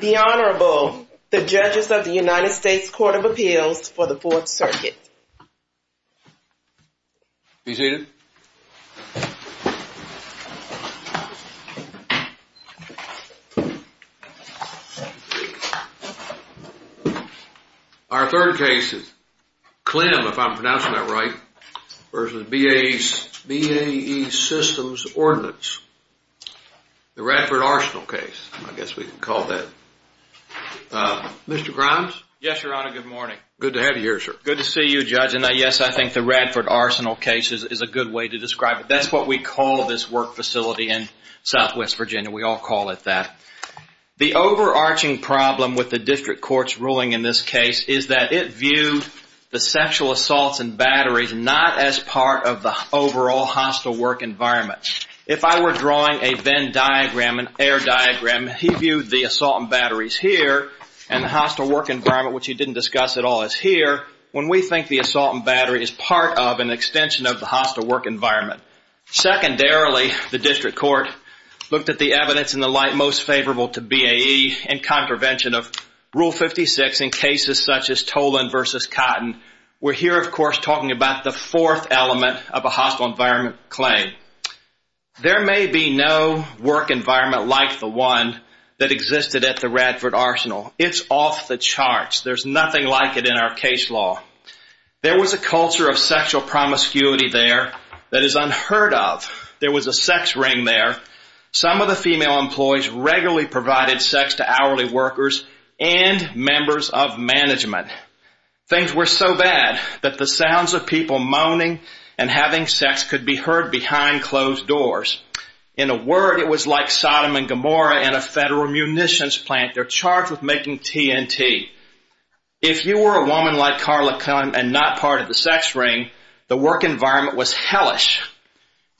The Honorable, the Judges of the United States Court of Appeals for the Fourth Circuit. Be seated. Our third case is Clehm, if I'm pronouncing that right, versus BAE Systems Ordinance. The Radford Arsenal case, I guess we can call that. Mr. Grimes? Yes, Your Honor, good morning. Good to have you here, sir. Good to see you, Judge. And yes, I think the Radford Arsenal case is a good way to describe it. That's what we call this work facility in Southwest Virginia. We all call it that. The overarching problem with the district court's ruling in this case is that it viewed the sexual assaults and batteries not as part of the overall hostile work environment. If I were drawing a Venn diagram, an air diagram, he viewed the assault and batteries here and the hostile work environment, which he didn't discuss at all, as here. When we think the assault and battery is part of an extension of the hostile work environment. Secondarily, the district court looked at the evidence in the light most favorable to BAE and contravention of Rule 56 in cases such as Toland versus Cotton. We're here, of course, talking about the fourth element of a hostile environment claim. There may be no work environment like the one that existed at the Radford Arsenal. It's off the charts. There's nothing like it in our case law. There was a culture of sexual promiscuity there that is unheard of. There was a sex ring there. Some of the female employees regularly provided sex to hourly workers and members of management. Things were so bad that the sounds of people moaning and having sex could be heard behind closed doors. In a word, it was like Sodom and Gomorrah in a federal munitions plant. They're charged with making TNT. If you were a woman like Carla Cohen and not part of the sex ring, the work environment was hellish.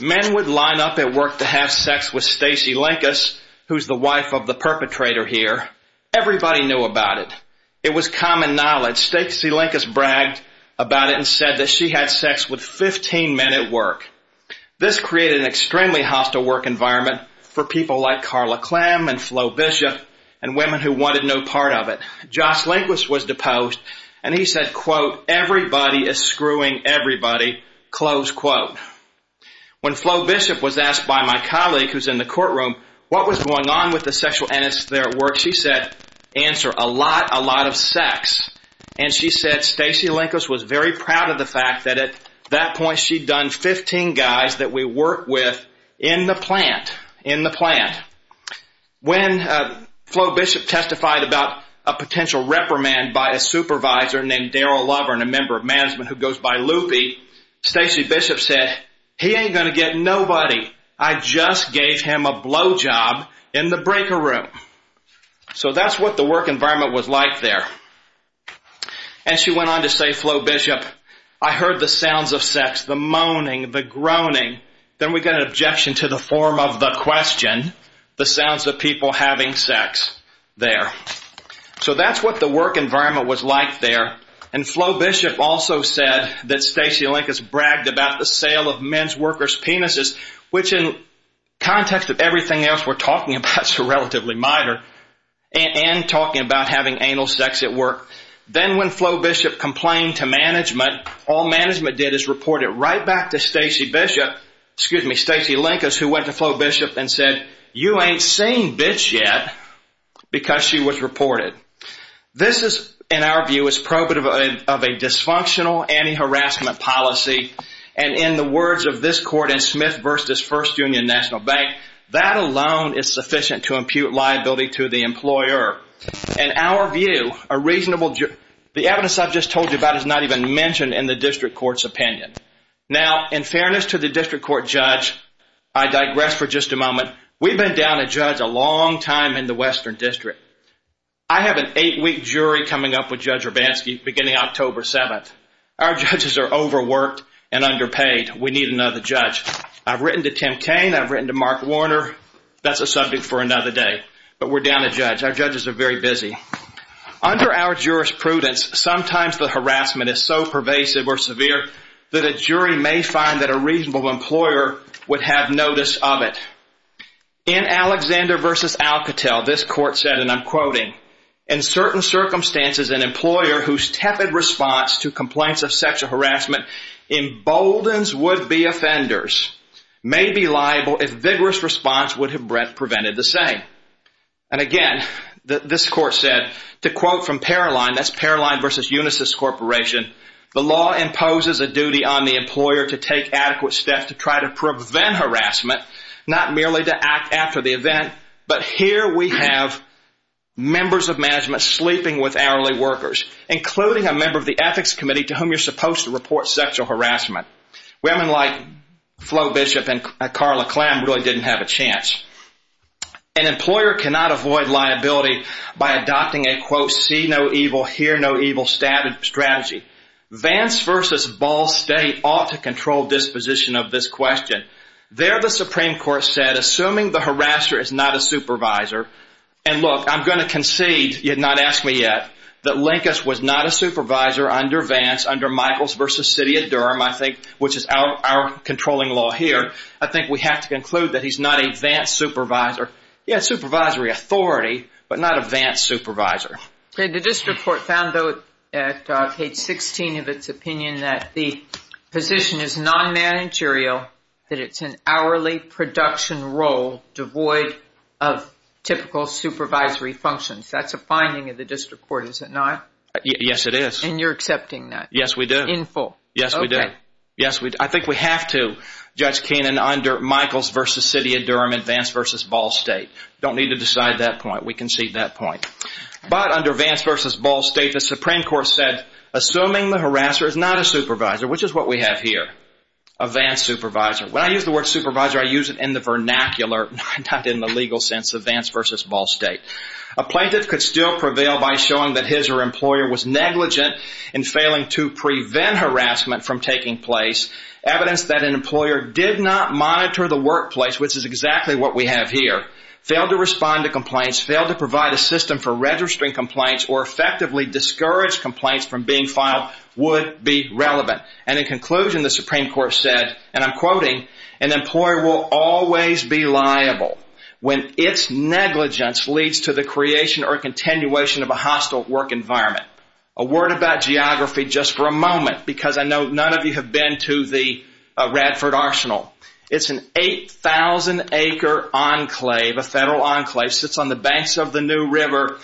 Men would line up at work to have sex with Stacey Lankes, who's the wife of the perpetrator here. Everybody knew about it. It was common knowledge. Stacey Lankes bragged about it and said that she had sex with 15 men at work. This created an extremely hostile work environment for people like Carla Clem and Flo Bishop and women who wanted no part of it. Joss Lankes was deposed, and he said, quote, Everybody is screwing everybody, close quote. When Flo Bishop was asked by my colleague, who's in the courtroom, what was going on with the sexual entities there at work, she said, answer, a lot, a lot of sex. And she said Stacey Lankes was very proud of the fact that at that point she'd done 15 guys that we worked with in the plant, in the plant. When Flo Bishop testified about a potential reprimand by a supervisor named Daryl Lover, a member of management who goes by Loopy, Stacey Bishop said, He ain't going to get nobody. I just gave him a blowjob in the breaker room. So that's what the work environment was like there. And she went on to say, Flo Bishop, I heard the sounds of sex, the moaning, the groaning. Then we got an objection to the form of the question, the sounds of people having sex there. So that's what the work environment was like there. And Flo Bishop also said that Stacey Lankes bragged about the sale of men's workers' penises which in context of everything else we're talking about is relatively minor and talking about having anal sex at work. Then when Flo Bishop complained to management, all management did is report it right back to Stacey Bishop, excuse me, Stacey Lankes, who went to Flo Bishop and said, You ain't seen bitch yet because she was reported. This is, in our view, is probative of a dysfunctional anti-harassment policy. And in the words of this court in Smith v. First Union National Bank, that alone is sufficient to impute liability to the employer. In our view, the evidence I've just told you about is not even mentioned in the district court's opinion. Now, in fairness to the district court judge, I digress for just a moment. We've been down a judge a long time in the Western District. I have an eight-week jury coming up with Judge Hrabanski beginning October 7th. Our judges are overworked and underpaid. We need another judge. I've written to Tim Kaine. I've written to Mark Warner. That's a subject for another day, but we're down a judge. Our judges are very busy. Under our jurisprudence, sometimes the harassment is so pervasive or severe that a jury may find that a reasonable employer would have notice of it. In Alexander v. Alcatel, this court said, and I'm quoting, in certain circumstances, an employer whose tepid response to complaints of sexual harassment emboldens would-be offenders may be liable if vigorous response would have prevented the same. And again, this court said, to quote from Paroline, that's Paroline v. Unisys Corporation, the law imposes a duty on the employer to take adequate steps to try to prevent harassment, not merely to act after the event, but here we have members of management sleeping with hourly workers, including a member of the ethics committee to whom you're supposed to report sexual harassment. Women like Flo Bishop and Carla Klem really didn't have a chance. An employer cannot avoid liability by adopting a, quote, see no evil, hear no evil strategy. Vance v. Ball State ought to control disposition of this question. There the Supreme Court said, assuming the harasser is not a supervisor, and look, I'm going to concede, you have not asked me yet, that Linkus was not a supervisor under Vance, under Michaels v. City of Durham, I think, which is our controlling law here. I think we have to conclude that he's not a Vance supervisor. He had supervisory authority, but not a Vance supervisor. The district court found, though, at page 16 of its opinion that the position is non-managerial, that it's an hourly production role devoid of typical supervisory functions. That's a finding of the district court, is it not? Yes, it is. And you're accepting that? Yes, we do. In full? Yes, we do. Yes, we do. I think we have to judge Kenan under Michaels v. City of Durham and Vance v. Ball State. Don't need to decide that point. We concede that point. But under Vance v. Ball State, the Supreme Court said, assuming the harasser is not a supervisor, which is what we have here, a Vance supervisor. When I use the word supervisor, I use it in the vernacular, not in the legal sense of Vance v. Ball State. A plaintiff could still prevail by showing that his or her employer was negligent in failing to prevent harassment from taking place, evidence that an employer did not monitor the workplace, which is exactly what we have here, failed to respond to complaints, failed to provide a system for registering complaints or effectively discourage complaints from being filed would be relevant. And in conclusion, the Supreme Court said, and I'm quoting, an employer will always be liable when its negligence leads to the creation or continuation of a hostile work environment. A word about geography just for a moment because I know none of you have been to the Radford Arsenal. It's an 8,000-acre enclave, a federal enclave, sits on the banks of the New River.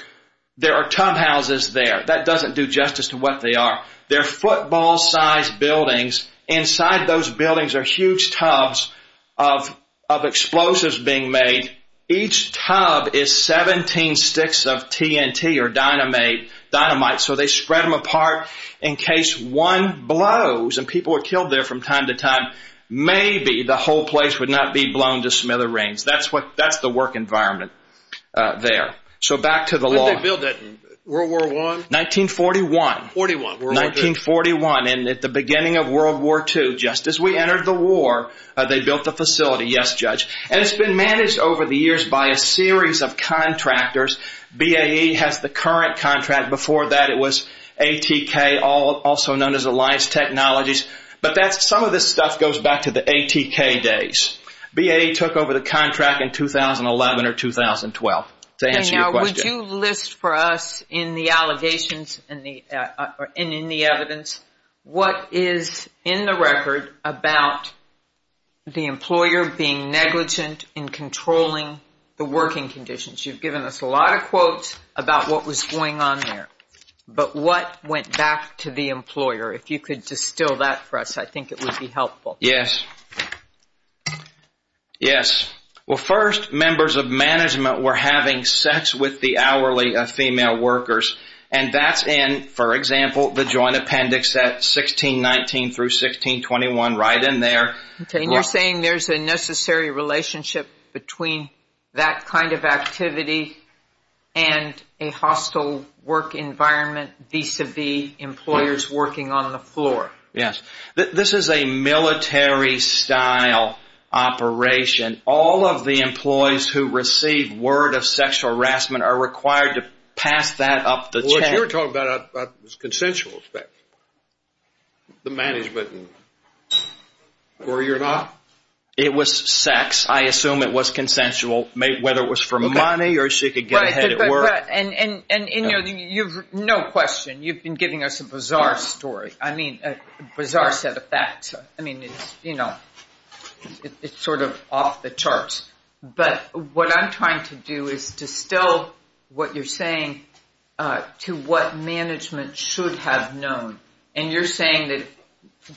There are tub houses there. That doesn't do justice to what they are. They're football-sized buildings. Inside those buildings are huge tubs of explosives being made. Each tub is 17 sticks of TNT or dynamite, so they spread them apart in case one blows and people were killed there from time to time. Maybe the whole place would not be blown to smithereens. That's the work environment there. So back to the law. Did they build that in World War I? 1941. 1941. 1941, and at the beginning of World War II, just as we entered the war, they built the facility. Yes, Judge. And it's been managed over the years by a series of contractors. BAE has the current contract. Before that, it was ATK, also known as Alliance Technologies. But some of this stuff goes back to the ATK days. BAE took over the contract in 2011 or 2012, to answer your question. Would you list for us in the allegations and in the evidence what is in the record about the employer being negligent in controlling the working conditions? You've given us a lot of quotes about what was going on there. But what went back to the employer? If you could distill that for us, I think it would be helpful. Yes. Yes. Well, first, members of management were having sex with the hourly female workers, and that's in, for example, the Joint Appendix at 1619 through 1621, right in there. And you're saying there's a necessary relationship between that kind of activity and a hostile work environment vis-à-vis employers working on the floor? Yes. This is a military-style operation. All of the employees who receive word of sexual harassment are required to pass that up the chain. But you're talking about a consensual effect, the management, or you're not? It was sex. I assume it was consensual, whether it was for money or she could get ahead at work. And, you know, no question, you've been giving us a bizarre story. I mean, a bizarre set of facts. I mean, you know, it's sort of off the charts. But what I'm trying to do is distill what you're saying to what management should have known. And you're saying that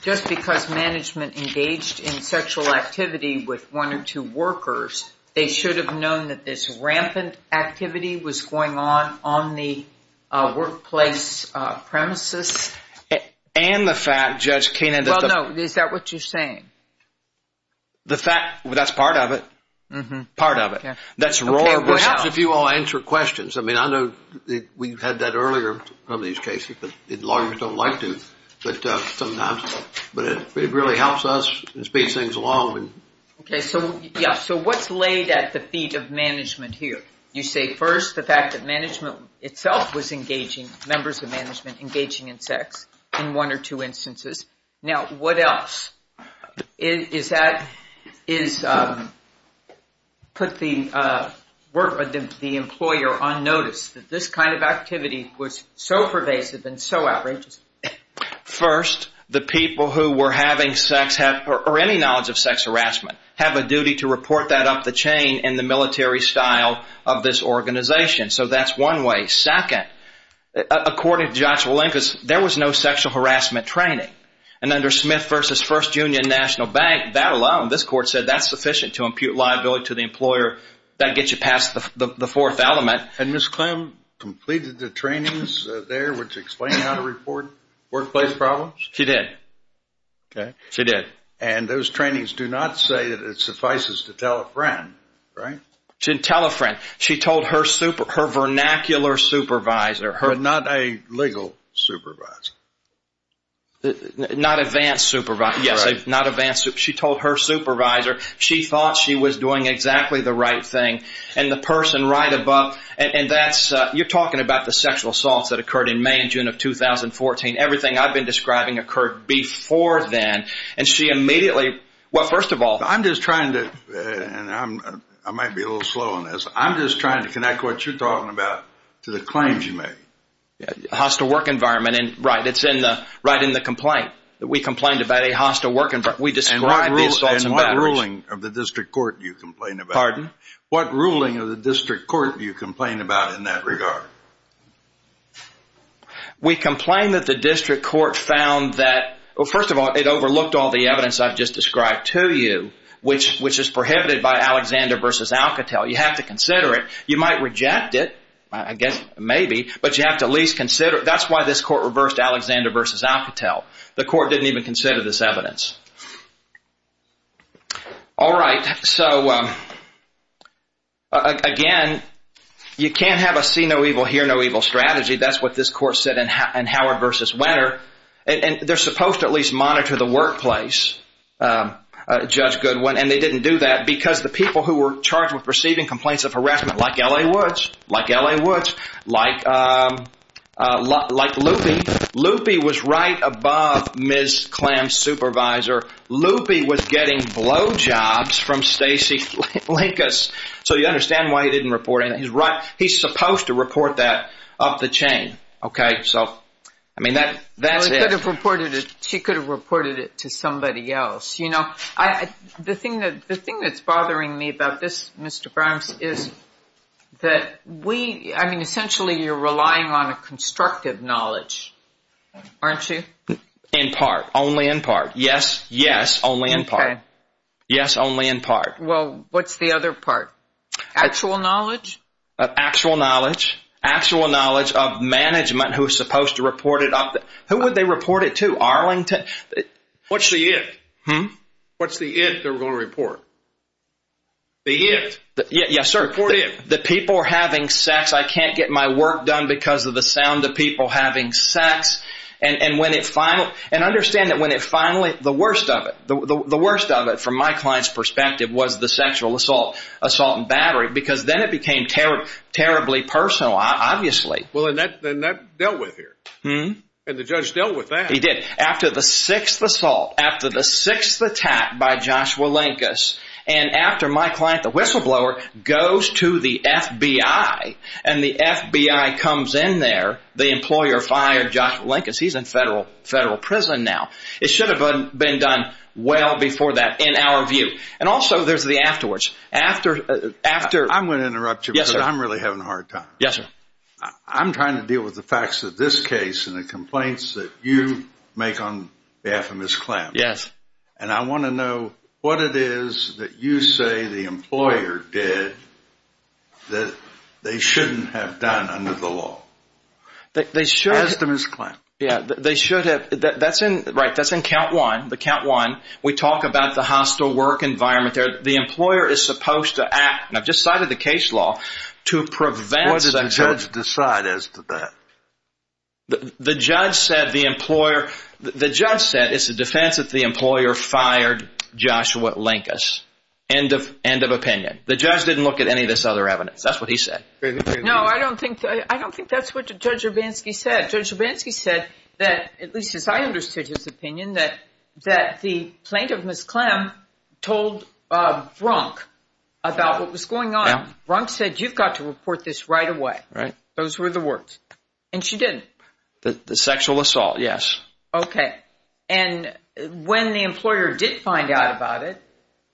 just because management engaged in sexual activity with one or two workers, they should have known that this rampant activity was going on on the workplace premises? And the fact, Judge Kainan, that the— The fact, that's part of it. Mm-hmm. Part of it. Perhaps if you all answer questions. I mean, I know we've had that earlier on these cases, but lawyers don't like to. But sometimes, but it really helps us and speeds things along. Okay. So, yeah, so what's laid at the feet of management here? You say, first, the fact that management itself was engaging, members of management engaging in sex in one or two instances. Now, what else? Is that—put the employer on notice that this kind of activity was so pervasive and so outrageous? First, the people who were having sex, or any knowledge of sex harassment, have a duty to report that up the chain in the military style of this organization. So that's one way. Second, according to Joshua Lincoln, there was no sexual harassment training. And under Smith v. First Union National Bank, that alone, this court said, that's sufficient to impute liability to the employer. That gets you past the fourth element. Had Ms. Clem completed the trainings there, which explained how to report workplace problems? She did. Okay. She did. And those trainings do not say that it suffices to tell a friend, right? To tell a friend. She told her vernacular supervisor. Not a legal supervisor. Not advanced supervisor. Yes, not advanced—she told her supervisor. She thought she was doing exactly the right thing. And the person right above—and that's—you're talking about the sexual assaults that occurred in May and June of 2014. Everything I've been describing occurred before then. And she immediately—well, first of all— I'm just trying to—and I might be a little slow on this. I'm just trying to connect what you're talking about to the claims you made. Hostile work environment. Right. It's right in the complaint. We complained about a hostile work environment. And what ruling of the district court do you complain about? Pardon? What ruling of the district court do you complain about in that regard? We complain that the district court found that—well, first of all, it overlooked all the evidence I've just described to you, which is prohibited by Alexander v. Alcatel. You have to consider it. You might reject it, I guess, maybe, but you have to at least consider it. That's why this court reversed Alexander v. Alcatel. The court didn't even consider this evidence. All right. So, again, you can't have a see no evil, hear no evil strategy. That's what this court said in Howard v. Wenner. And they're supposed to at least monitor the workplace, Judge Goodwin, and they didn't do that because the people who were charged with receiving complaints of harassment, like L.A. Woods, like L.A. Woods, like Loopy, Loopy was right above Ms. Klam's supervisor. Loopy was getting blowjobs from Stacy Flinkus. So you understand why he didn't report anything. He's supposed to report that up the chain. Okay? So, I mean, that's it. She could have reported it to somebody else. The thing that's bothering me about this, Mr. Grimes, is that we, I mean, essentially you're relying on a constructive knowledge, aren't you? In part. Only in part. Yes, yes, only in part. Yes, only in part. Well, what's the other part? Actual knowledge? Actual knowledge. Actual knowledge of management who is supposed to report it up. Who would they report it to? Arlington? What's the it? Hmm? What's the it they're going to report? The it. Yes, sir. Report it. The people are having sex. I can't get my work done because of the sound of people having sex. And when it finally, and understand that when it finally, the worst of it, the worst of it from my client's perspective was the sexual assault and battery. Because then it became terribly personal, obviously. Well, and that dealt with here. Hmm? And the judge dealt with that. He did. After the sixth assault, after the sixth attack by Joshua Lankes, and after my client, the whistleblower, goes to the FBI and the FBI comes in there, the employer fired Joshua Lankes. He's in federal prison now. It should have been done well before that in our view. And also there's the afterwards. After, after. I'm going to interrupt you because I'm really having a hard time. Yes, sir. I'm trying to deal with the facts of this case and the complaints that you make on behalf of Ms. Clamp. Yes. And I want to know what it is that you say the employer did that they shouldn't have done under the law. They should have. As to Ms. Clamp. Yeah, they should have. That's in, right, that's in count one, the count one. We talk about the hostile work environment there. The employer is supposed to act, and I've just cited the case law, to prevent. What did the judge decide as to that? The judge said the employer, the judge said it's the defense that the employer fired Joshua Lankes. End of, end of opinion. The judge didn't look at any of this other evidence. That's what he said. No, I don't think, I don't think that's what Judge Urbanski said. Judge Urbanski said that, at least as I understood his opinion, that the plaintiff, Ms. Clamp, told Brunk about what was going on. Brunk said you've got to report this right away. Right. Those were the words. And she didn't. The sexual assault, yes. Okay. And when the employer did find out about it,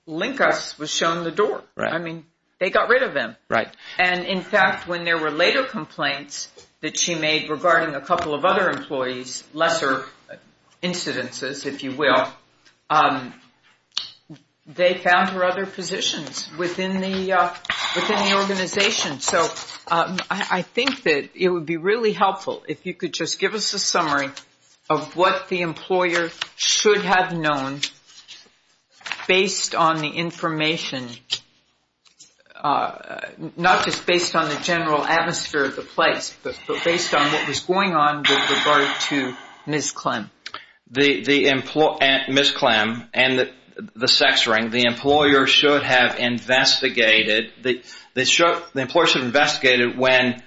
Lankes was shown the door. Right. I mean, they got rid of him. Right. And, in fact, when there were later complaints that she made regarding a couple of other employees, lesser incidences, if you will, they found her other positions within the organization. So I think that it would be really helpful if you could just give us a summary of what the employer should have known based on the information, not just based on the general atmosphere of the place, but based on what was going on with regard to Ms. Clamp. Ms. Clamp and the sex ring, the employer should have investigated. The employer should have investigated when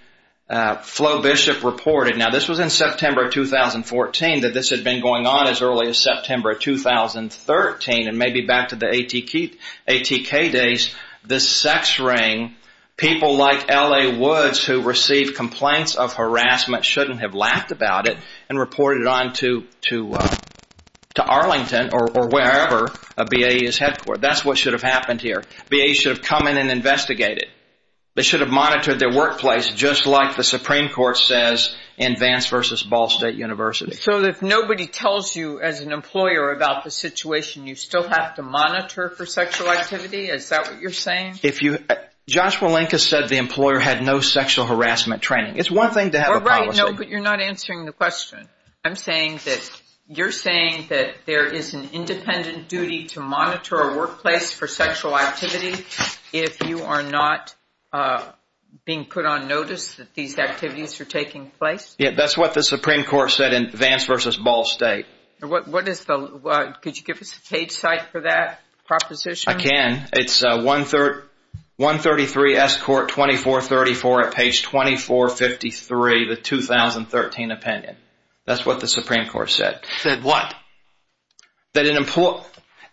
Flo Bishop reported. Now, this was in September of 2014, that this had been going on as early as September of 2013, and maybe back to the ATK days. The sex ring, people like L.A. Woods, who received complaints of harassment, shouldn't have laughed about it and reported it on to Arlington or wherever a BAE is headquartered. That's what should have happened here. BAE should have come in and investigated. They should have monitored their workplace, just like the Supreme Court says in Vance v. Ball State University. So if nobody tells you as an employer about the situation, you still have to monitor for sexual activity? Is that what you're saying? Joshua Lincas said the employer had no sexual harassment training. It's one thing to have a policy. I'm saying that you're saying that there is an independent duty to monitor a workplace for sexual activity if you are not being put on notice that these activities are taking place? Yeah, that's what the Supreme Court said in Vance v. Ball State. Could you give us a page site for that proposition? I can. It's 133 S. Court 2434 at page 2453, the 2013 opinion. That's what the Supreme Court said. Said what?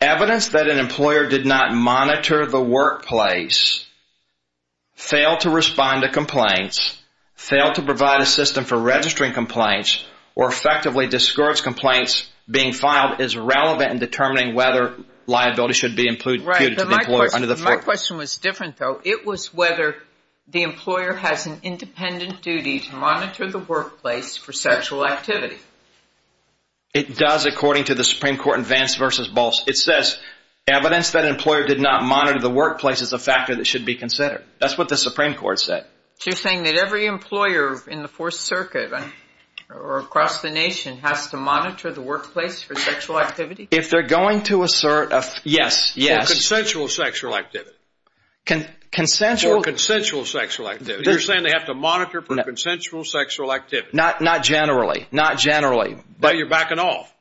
Evidence that an employer did not monitor the workplace, failed to respond to complaints, failed to provide a system for registering complaints, or effectively discouraged complaints being filed is relevant in determining whether liability should be included. My question was different, though. It was whether the employer has an independent duty to monitor the workplace for sexual activity. It does, according to the Supreme Court in Vance v. Ball State. It says evidence that an employer did not monitor the workplace is a factor that should be considered. That's what the Supreme Court said. So you're saying that every employer in the Fourth Circuit or across the nation has to monitor the workplace for sexual activity? If they're going to assert a – yes, yes. For consensual sexual activity. Consensual? For consensual sexual activity. You're saying they have to monitor for consensual sexual activity. Not generally, not generally. So you're backing off?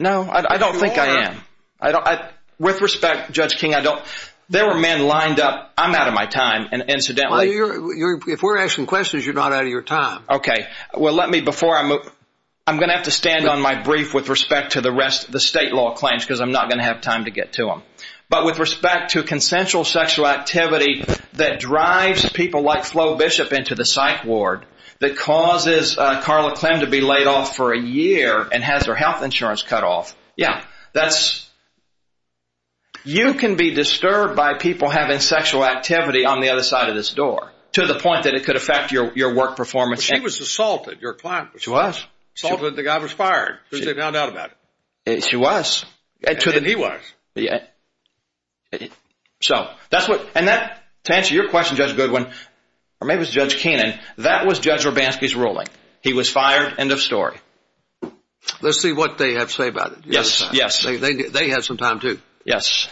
No, I don't think I am. You are. With respect, Judge King, I don't – there were men lined up – I'm out of my time, incidentally. Well, if we're asking questions, you're not out of your time. Okay. Well, let me – before I move – I'm going to have to stand on my brief with respect to the rest of the state law claims because I'm not going to have time to get to them. But with respect to consensual sexual activity that drives people like Flo Bishop into the psych ward, that causes Carla Clem to be laid off for a year and has her health insurance cut off, Yeah, that's – you can be disturbed by people having sexual activity on the other side of this door to the point that it could affect your work performance. She was assaulted. Your client was assaulted. She was. The guy was fired. There's no doubt about it. She was. And he was. So that's what – and that – to answer your question, Judge Goodwin, or maybe it was Judge Keenan, that was Judge Robanski's ruling. He was fired. End of story. Let's see what they have to say about it. Yes. Yes. They had some time, too. Yes.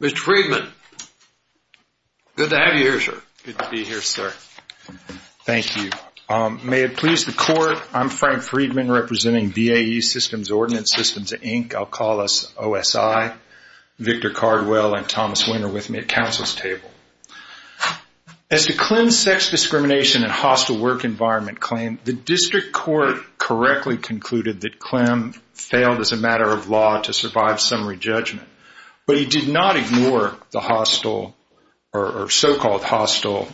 Mr. Freedman, good to have you here, sir. Good to be here, sir. Thank you. May it please the Court, I'm Frank Freedman representing VAE Systems Ordnance Systems, Inc. I'll call us OSI, Victor Cardwell, and Thomas Winter with me at counsel's table. As to Clem's sex discrimination and hostile work environment claim, the district court correctly concluded that Clem failed as a matter of law to survive summary judgment. But he did not ignore the hostile or so-called hostile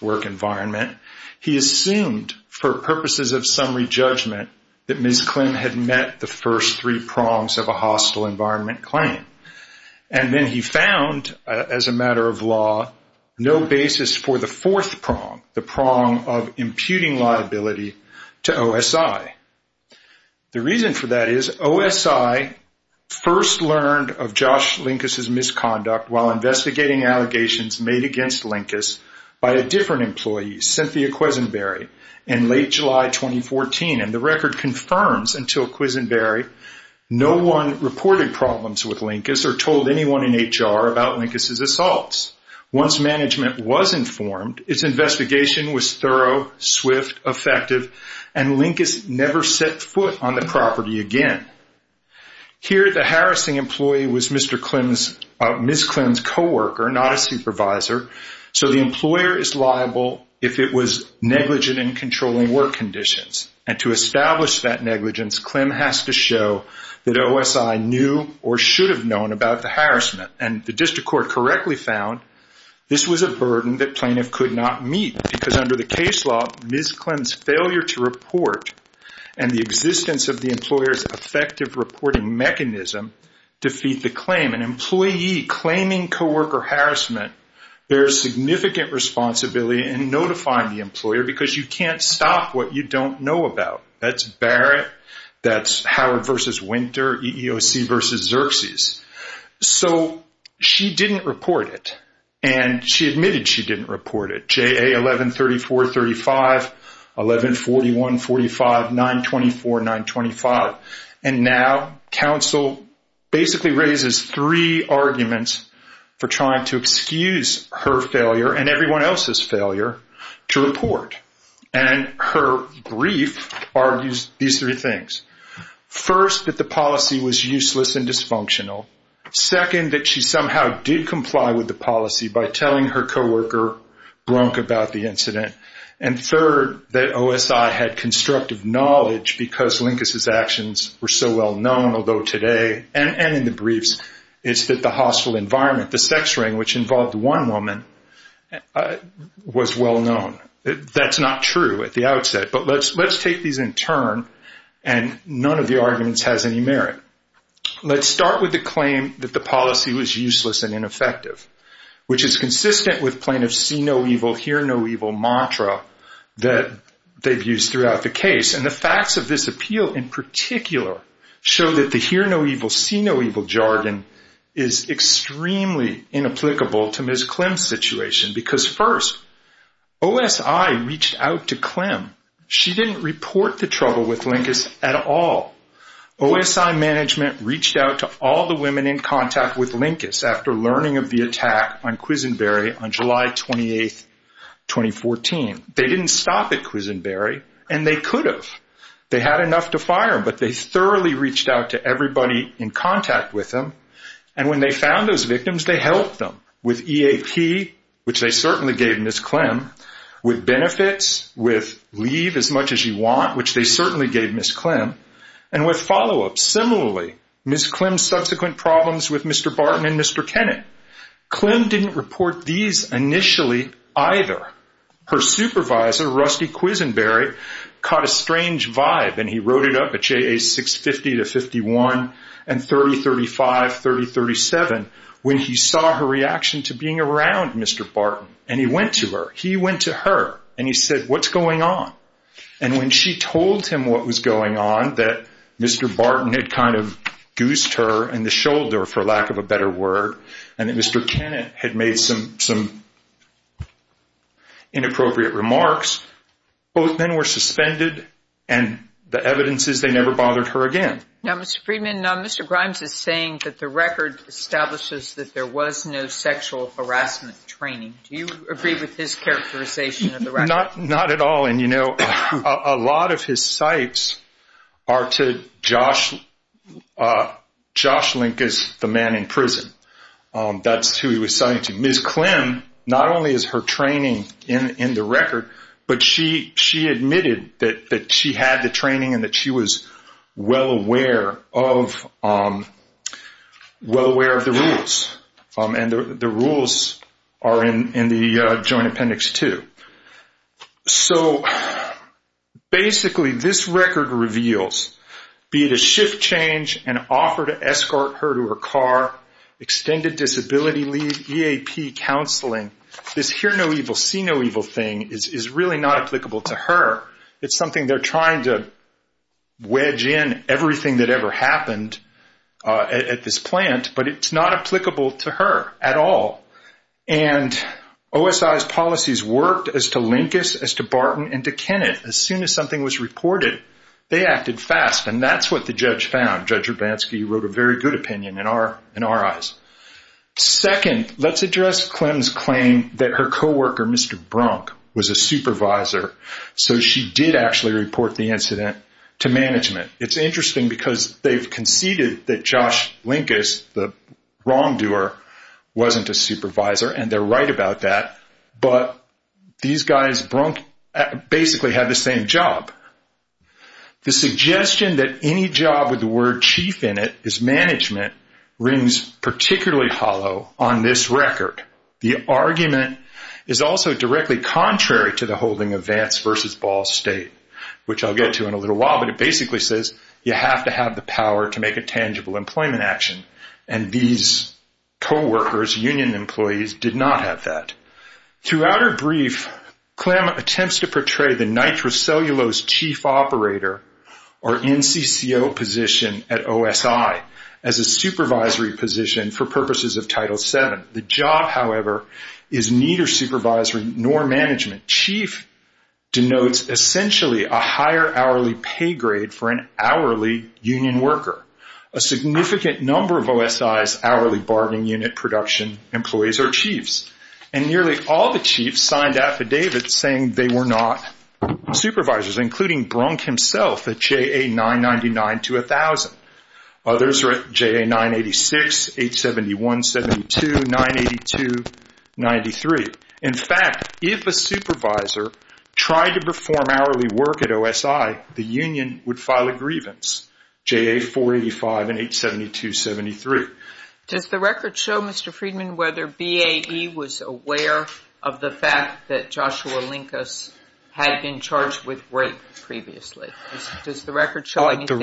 work environment. He assumed for purposes of summary judgment that Ms. Clem had met the first three prongs of a hostile environment claim. And then he found, as a matter of law, no basis for the fourth prong, the prong of imputing liability to OSI. The reason for that is OSI first learned of Josh Linkus' misconduct while investigating allegations made against Linkus by a different employee, Cynthia Quisenberry, in late July 2014. And the record confirms, until Quisenberry, no one reported problems with Linkus or told anyone in HR about Linkus' assaults. Once management was informed, its investigation was thorough, swift, effective, and Linkus never set foot on the property again. Here, the harassing employee was Ms. Clem's coworker, not a supervisor, so the employer is liable if it was negligent in controlling work conditions. And to establish that negligence, Clem has to show that OSI knew or should have known about the harassment. And the district court correctly found this was a burden that plaintiff could not meet because, under the case law, Ms. Clem's failure to report and the existence of the employer's effective reporting mechanism defeat the claim. An employee claiming coworker harassment bears significant responsibility in notifying the employer because you can't stop what you don't know about. That's Barrett, that's Howard v. Winter, EEOC v. Xerxes. So she didn't report it, and she admitted she didn't report it. JA 11-34-35, 11-41-45, 9-24-925. And now counsel basically raises three arguments for trying to excuse her failure and everyone else's failure to report. And her brief argues these three things. First, that the policy was useless and dysfunctional. Second, that she somehow did comply with the policy by telling her coworker, Brunk, about the incident. And third, that OSI had constructive knowledge because Linkus's actions were so well known, although today and in the briefs, it's that the hostile environment, the sex ring, which involved one woman, was well known. That's not true at the outset, but let's take these in turn, and none of the arguments has any merit. Let's start with the claim that the policy was useless and ineffective, which is consistent with plaintiff's see-no-evil, hear-no-evil mantra that they've used throughout the case. And the facts of this appeal in particular show that the hear-no-evil, see-no-evil jargon is extremely inapplicable to Ms. Klim's situation because, first, OSI reached out to Klim. She didn't report the trouble with Linkus at all. OSI management reached out to all the women in contact with Linkus after learning of the attack on Quisenberry on July 28, 2014. They didn't stop at Quisenberry, and they could have. They had enough to fire, but they thoroughly reached out to everybody in contact with them. And when they found those victims, they helped them with EAP, which they certainly gave Ms. Klim, with benefits, with leave as much as you want, which they certainly gave Ms. Klim, and with follow-ups. Similarly, Ms. Klim's subsequent problems with Mr. Barton and Mr. Kennett, Klim didn't report these initially either. Her supervisor, Rusty Quisenberry, caught a strange vibe, and he wrote it up at JA 650-51 and 3035-3037 when he saw her reaction to being around Mr. Barton. And he went to her. He went to her, and he said, what's going on? And when she told him what was going on, that Mr. Barton had kind of goosed her in the shoulder, for lack of a better word, and that Mr. Kennett had made some inappropriate remarks, both men were suspended, and the evidence is they never bothered her again. Now, Mr. Friedman, Mr. Grimes is saying that the record establishes that there was no sexual harassment training. Do you agree with his characterization of the record? Not at all. And, you know, a lot of his cites are to Josh Link as the man in prison. That's who he was citing to. So basically this record reveals, be it a shift change, an offer to escort her to her car, extended disability leave, EAP counseling, this hear no evil, see no evil thing is really not applicable to her. It's something they're trying to wedge in everything that ever happened at this plant, but it's not applicable to her at all. And OSI's policies worked as to Linkus, as to Barton, and to Kennett. As soon as something was reported, they acted fast, and that's what the judge found. Judge Hrabanski wrote a very good opinion in our eyes. Second, let's address Clem's claim that her coworker, Mr. Brunk, was a supervisor, so she did actually report the incident to management. It's interesting because they've conceded that Josh Linkus, the wrongdoer, wasn't a supervisor, and they're right about that, but these guys, Brunk, basically had the same job. The suggestion that any job with the word chief in it is management rings particularly hollow on this record. The argument is also directly contrary to the holding of Vance v. Ball State, which I'll get to in a little while, but it basically says you have to have the power to make a tangible employment action, and these coworkers, union employees, did not have that. Throughout her brief, Clem attempts to portray the nitrocellulose chief operator, or NCCO position at OSI, as a supervisory position for purposes of Title VII. The job, however, is neither supervisory nor management. Chief denotes essentially a higher hourly pay grade for an hourly union worker. A significant number of OSI's hourly bargaining unit production employees are chiefs, and nearly all the chiefs signed affidavits saying they were not supervisors, including Brunk himself at JA 999 to 1000. Others are at JA 986, 871, 72, 982, 93. In fact, if a supervisor tried to perform hourly work at OSI, the union would file a grievance, JA 485 and 872-73. Does the record show, Mr. Friedman, whether BAE was aware of the fact that Joshua Linkus had been charged with rape previously? Does the record show anything?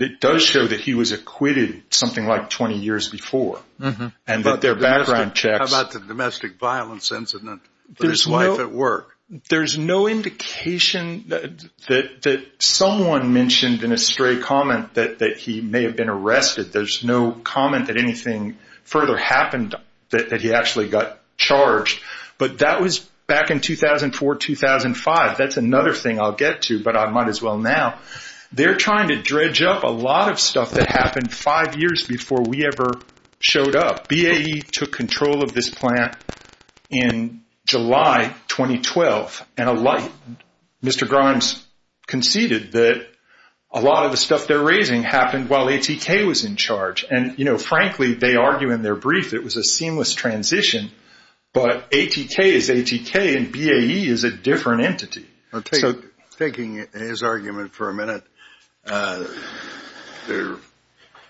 It does show that he was acquitted something like 20 years before, and that their background checks… How about the domestic violence incident with his wife at work? There's no indication that someone mentioned in a stray comment that he may have been arrested. There's no comment that anything further happened that he actually got charged. But that was back in 2004, 2005. That's another thing I'll get to, but I might as well now. They're trying to dredge up a lot of stuff that happened five years before we ever showed up. BAE took control of this plant in July 2012, and Mr. Grimes conceded that a lot of the stuff they're raising happened while ATK was in charge. And frankly, they argue in their brief it was a seamless transition, but ATK is ATK, and BAE is a different entity. Taking his argument for a minute, there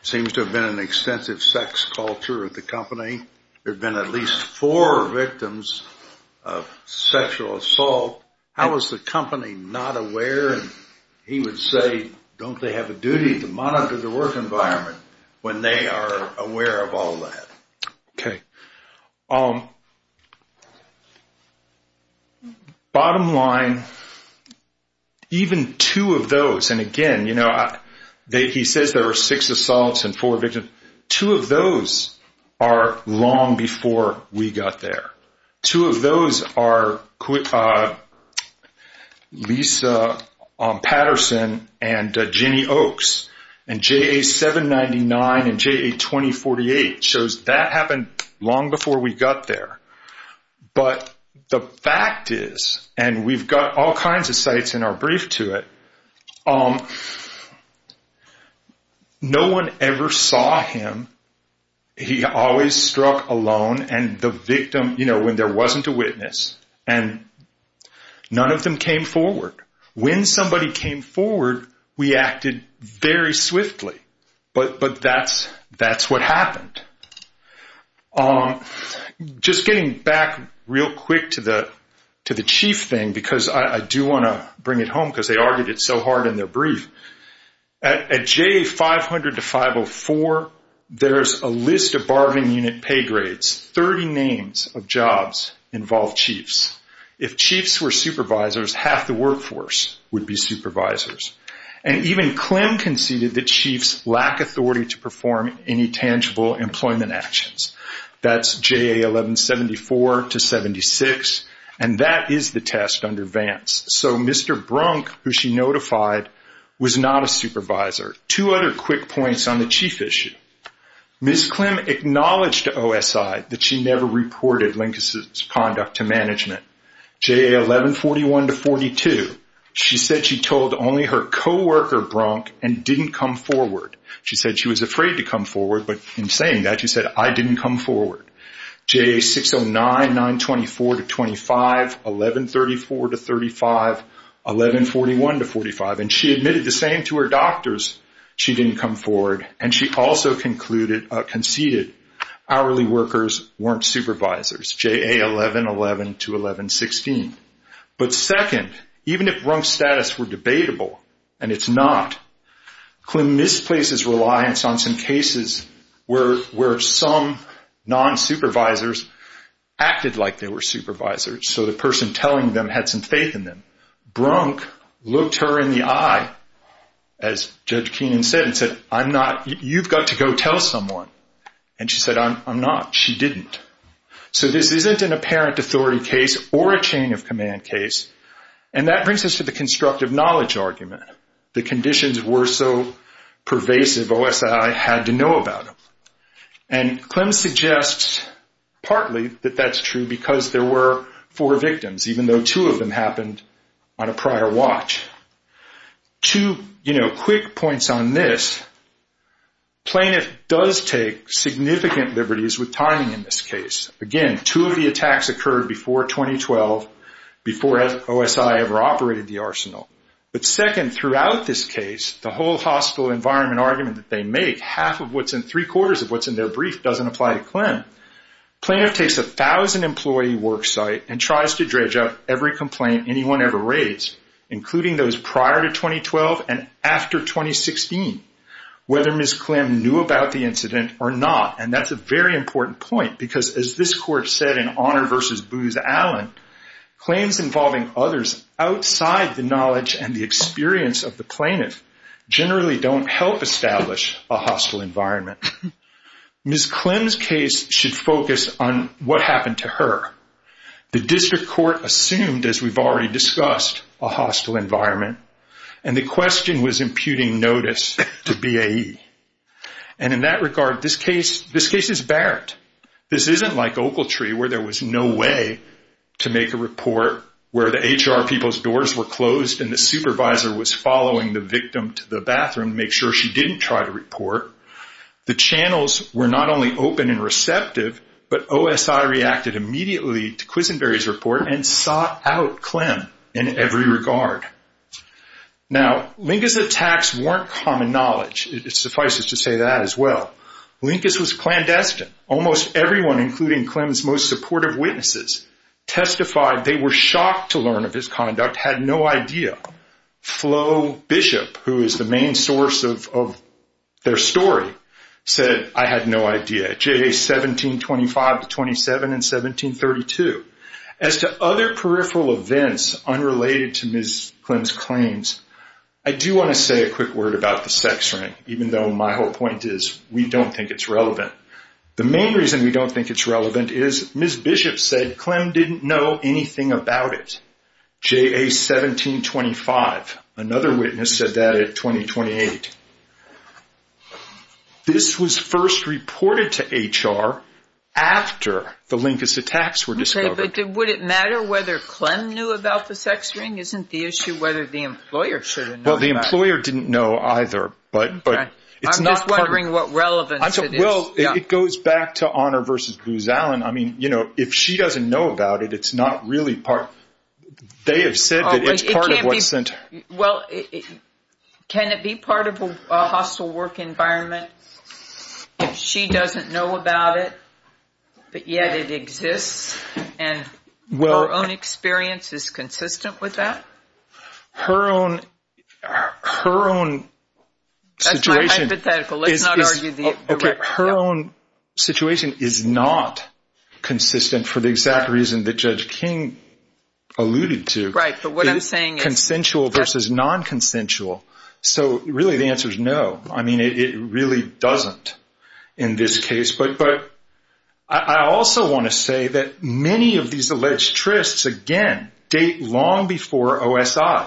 seems to have been an extensive sex culture at the company. There have been at least four victims of sexual assault. How is the company not aware? He would say, don't they have a duty to monitor the work environment when they are aware of all that? Okay. Bottom line, even two of those, and again, he says there were six assaults and four victims. Two of those are long before we got there. Two of those are Lisa Patterson and Jenny Oaks, and JA-799 and JA-2048 shows that happened long before we got there. But the fact is, and we've got all kinds of sites in our brief to it, no one ever saw him. He always struck alone, and the victim, you know, when there wasn't a witness, and none of them came forward. When somebody came forward, we acted very swiftly. But that's what happened. Just getting back real quick to the chief thing, because I do want to bring it home because they argued it so hard in their brief. At JA-500 to 504, there's a list of bargaining unit pay grades. Thirty names of jobs involve chiefs. If chiefs were supervisors, half the workforce would be supervisors. And even Clem conceded that chiefs lack authority to perform any tangible employment actions. That's JA-1174 to 76, and that is the test under Vance. So Mr. Brunk, who she notified, was not a supervisor. Two other quick points on the chief issue. Ms. Clem acknowledged to OSI that she never reported Lincoln's conduct to management. JA-1141 to 42, she said she told only her co-worker Brunk and didn't come forward. She said she was afraid to come forward, but in saying that, she said, I didn't come forward. JA-609, 924 to 25, 1134 to 35, 1141 to 45, and she admitted the same to her doctors. She didn't come forward, and she also conceded hourly workers weren't supervisors. JA-1111 to 1116. But second, even if Brunk's status were debatable, and it's not, Clem misplaces reliance on some cases where some non-supervisors acted like they were supervisors, so the person telling them had some faith in them. Brunk looked her in the eye, as Judge Keenan said, and said, I'm not, you've got to go tell someone. And she said, I'm not. She didn't. So this isn't an apparent authority case or a chain of command case, and that brings us to the constructive knowledge argument. The conditions were so pervasive, OSI had to know about them. And Clem suggests partly that that's true because there were four victims, even though two of them happened on a prior watch. Two quick points on this. Plaintiff does take significant liberties with timing in this case. Again, two of the attacks occurred before 2012, before OSI ever operated the arsenal. But second, throughout this case, the whole hostile environment argument that they make, half of what's in three-quarters of what's in their brief doesn't apply to Clem. Plaintiff takes 1,000-employee worksite and tries to dredge out every complaint anyone ever raised, including those prior to 2012 and after 2016, whether Ms. Clem knew about the incident or not. And that's a very important point because, as this court said in Honor v. Booz Allen, claims involving others outside the knowledge and the experience of the plaintiff generally don't help establish a hostile environment. Ms. Clem's case should focus on what happened to her. The district court assumed, as we've already discussed, a hostile environment, and the question was imputing notice to BAE. And in that regard, this case is barren. This isn't like Oakletree, where there was no way to make a report, where the HR people's doors were closed and the supervisor was following the victim to the bathroom to make sure she didn't try to report. The channels were not only open and receptive, but OSI reacted immediately to Quisenberry's report and sought out Clem in every regard. Now, Linkus' attacks weren't common knowledge. Suffice it to say that as well. Linkus was clandestine. Almost everyone, including Clem's most supportive witnesses, testified they were shocked to learn of his conduct, had no idea. Flo Bishop, who is the main source of their story, said, I had no idea, J.A. 1725 to 27 and 1732. As to other peripheral events unrelated to Ms. Clem's claims, I do want to say a quick word about the sex ring, even though my whole point is we don't think it's relevant. The main reason we don't think it's relevant is Ms. Bishop said Clem didn't know anything about it. J.A. 1725. Another witness said that at 2028. This was first reported to HR after the Linkus attacks were discovered. Okay, but would it matter whether Clem knew about the sex ring? Isn't the issue whether the employer should have known about it? Well, the employer didn't know either. I'm not wondering what relevance it is. Well, it goes back to Honor v. Booz Allen. I mean, you know, if she doesn't know about it, it's not really part. They have said that it's part of what sent her. Well, can it be part of a hostile work environment if she doesn't know about it, but yet it exists, and her own experience is consistent with that? Her own situation is not consistent for the exact reason that Judge King alluded to. Right, but what I'm saying is. Consensual versus non-consensual. So really the answer is no. I mean, it really doesn't in this case. But I also want to say that many of these alleged trysts, again, date long before OSI.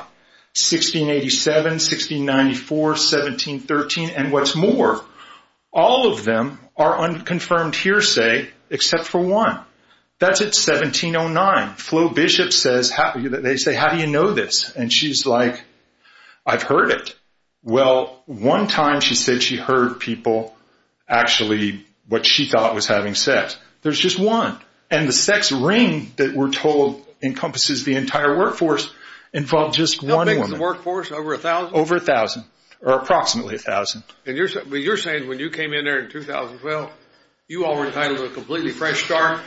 1687, 1694, 1713, and what's more. All of them are unconfirmed hearsay except for one. That's at 1709. Flo Bishop says, they say, how do you know this? And she's like, I've heard it. Well, one time she said she heard people actually what she thought was having sex. There's just one. And the sex ring that we're told encompasses the entire workforce involved just one woman. How big is the workforce? Over 1,000? Over 1,000, or approximately 1,000. But you're saying when you came in there in 2012, you all were entitled to a completely fresh start?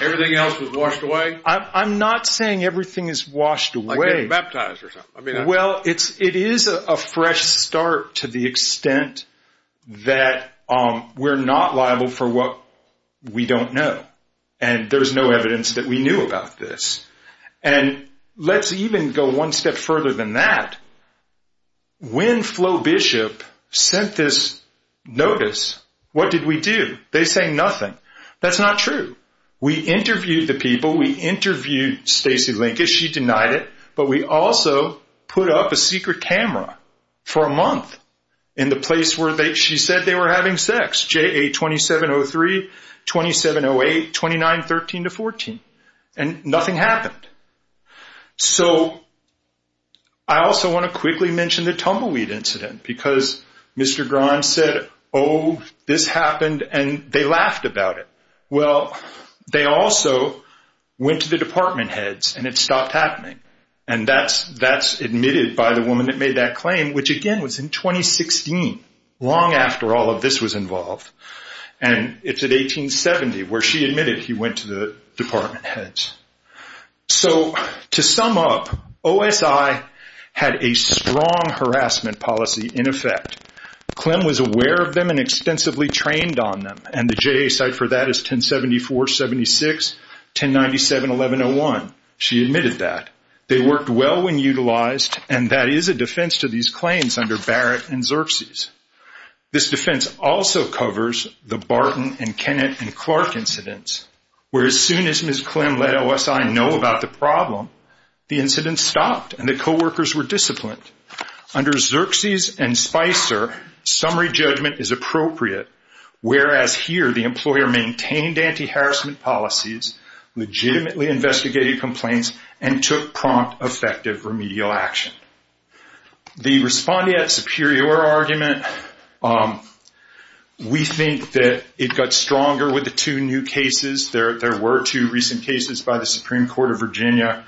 Everything else was washed away? I'm not saying everything is washed away. Like getting baptized or something? Well, it is a fresh start to the extent that we're not liable for what we don't know. And there's no evidence that we knew about this. And let's even go one step further than that. When Flo Bishop sent this notice, what did we do? They say nothing. That's not true. We interviewed the people. We interviewed Stacey Lincas. She denied it. But we also put up a secret camera for a month in the place where she said they were having sex, JA2703, 2708, 2913-14. And nothing happened. So I also want to quickly mention the tumbleweed incident because Mr. Grimes said, oh, this happened, and they laughed about it. Well, they also went to the department heads and it stopped happening. And that's admitted by the woman that made that claim, which, again, was in 2016, long after all of this was involved. And it's at 1870 where she admitted he went to the department heads. So to sum up, OSI had a strong harassment policy in effect. Clem was aware of them and extensively trained on them. And the JA site for that is 1074-76, 1097-1101. She admitted that. They worked well when utilized, and that is a defense to these claims under Barrett and Xerxes. This defense also covers the Barton and Kennett and Clark incidents, where as soon as Ms. Clem let OSI know about the problem, the incident stopped and the coworkers were disciplined. Under Xerxes and Spicer, summary judgment is appropriate, whereas here the employer maintained anti-harassment policies, legitimately investigated complaints, and took prompt, effective remedial action. The respondeat superior argument, we think that it got stronger with the two new cases. There were two recent cases by the Supreme Court of Virginia,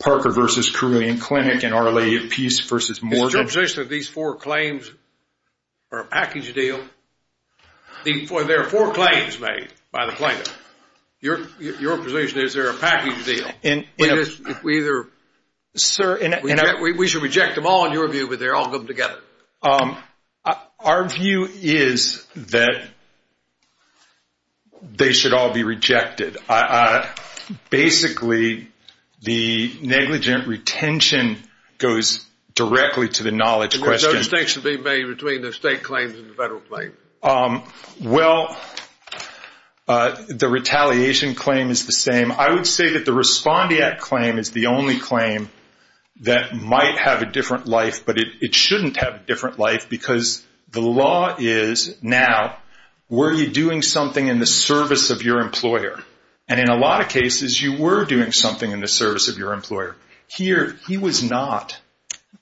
Parker v. Carilion Clinic and Our Lady of Peace v. Morgan. Is your position that these four claims are a package deal? There are four claims made by the plaintiff. Your position is they're a package deal. We should reject them all in your view, but they're all good together. Our view is that they should all be rejected. Basically, the negligent retention goes directly to the knowledge question. There's no distinction being made between the state claims and the federal claim. Well, the retaliation claim is the same. I would say that the respondeat claim is the only claim that might have a different life, but it shouldn't have a different life because the law is now, were you doing something in the service of your employer? In a lot of cases, you were doing something in the service of your employer. Here, he was not.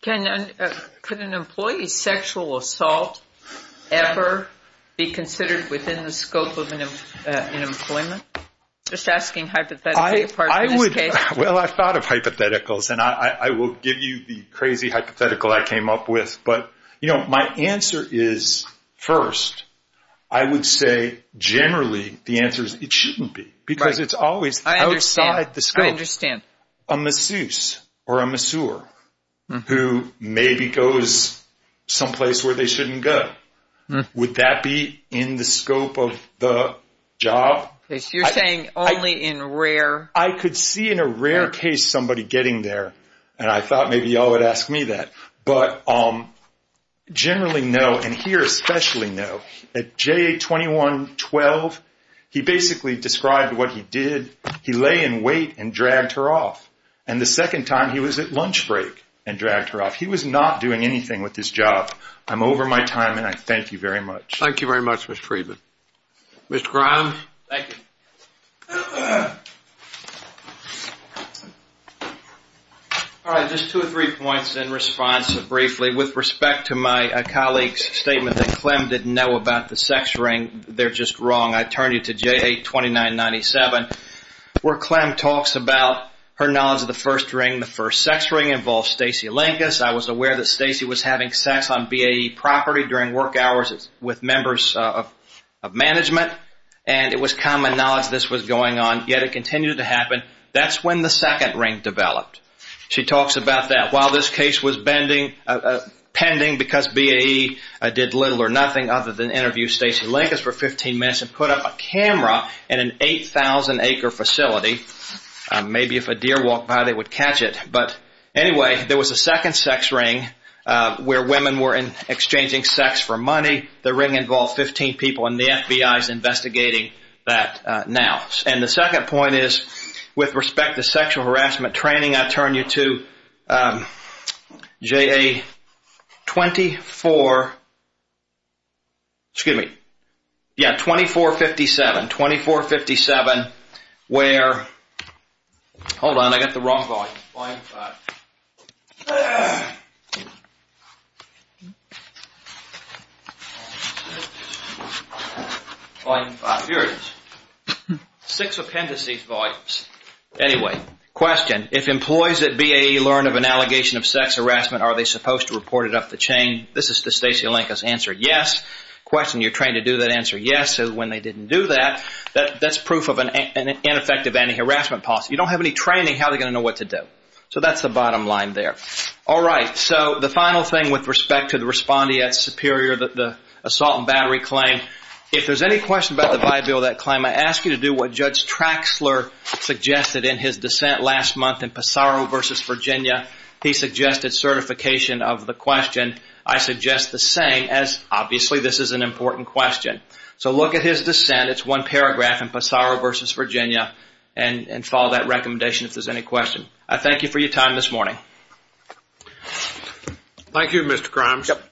Could an employee's sexual assault ever be considered within the scope of an employment? Just asking hypothetical parts in this case. Well, I thought of hypotheticals, and I will give you the crazy hypothetical I came up with. My answer is, first, I would say generally the answer is it shouldn't be because it's always outside the scope. I understand. A masseuse or a masseur who maybe goes someplace where they shouldn't go, would that be in the scope of the job? You're saying only in rare? I could see in a rare case somebody getting there, and I thought maybe you all would ask me that. But generally no, and here especially no. At JA-21-12, he basically described what he did. He lay in wait and dragged her off. And the second time, he was at lunch break and dragged her off. He was not doing anything with his job. I'm over my time, and I thank you very much. Thank you very much, Mr. Friedman. Mr. Grimes? Thank you. All right, just two or three points in response briefly. With respect to my colleague's statement that Clem didn't know about the sex ring, they're just wrong. I turn you to JA-29-97, where Clem talks about her knowledge of the first ring. The first sex ring involved Stacey Lankes. I was aware that Stacey was having sex on BAE property during work hours with members of management, and it was common knowledge this was going on, yet it continued to happen. That's when the second ring developed. She talks about that. While this case was pending because BAE did little or nothing other than interview Stacey Lankes for 15 minutes and put up a camera in an 8,000-acre facility, maybe if a deer walked by, they would catch it. But anyway, there was a second sex ring where women were exchanging sex for money. The ring involved 15 people, and the FBI is investigating that now. And the second point is with respect to sexual harassment training, I turn you to JA-24, excuse me, yeah, 24-57, 24-57, where, hold on, I got the wrong volume, volume 5, volume 5, here it is. Six appendices volumes. Anyway, question, if employees at BAE learn of an allegation of sex harassment, are they supposed to report it up the chain? This is to Stacey Lankes' answer, yes. Question, you're trained to do that answer, yes, so when they didn't do that, that's proof of an ineffective anti-harassment policy. You don't have any training, how are they going to know what to do? So that's the bottom line there. All right, so the final thing with respect to the respondee at Superior, the assault and battery claim, if there's any question about the viability of that claim, I ask you to do what Judge Traxler suggested in his dissent last month in Passaro v. Virginia. He suggested certification of the question. I suggest the same as obviously this is an important question. So look at his dissent, it's one paragraph in Passaro v. Virginia, and follow that recommendation if there's any question. I thank you for your time this morning. Thank you, Mr. Grimes. Yep.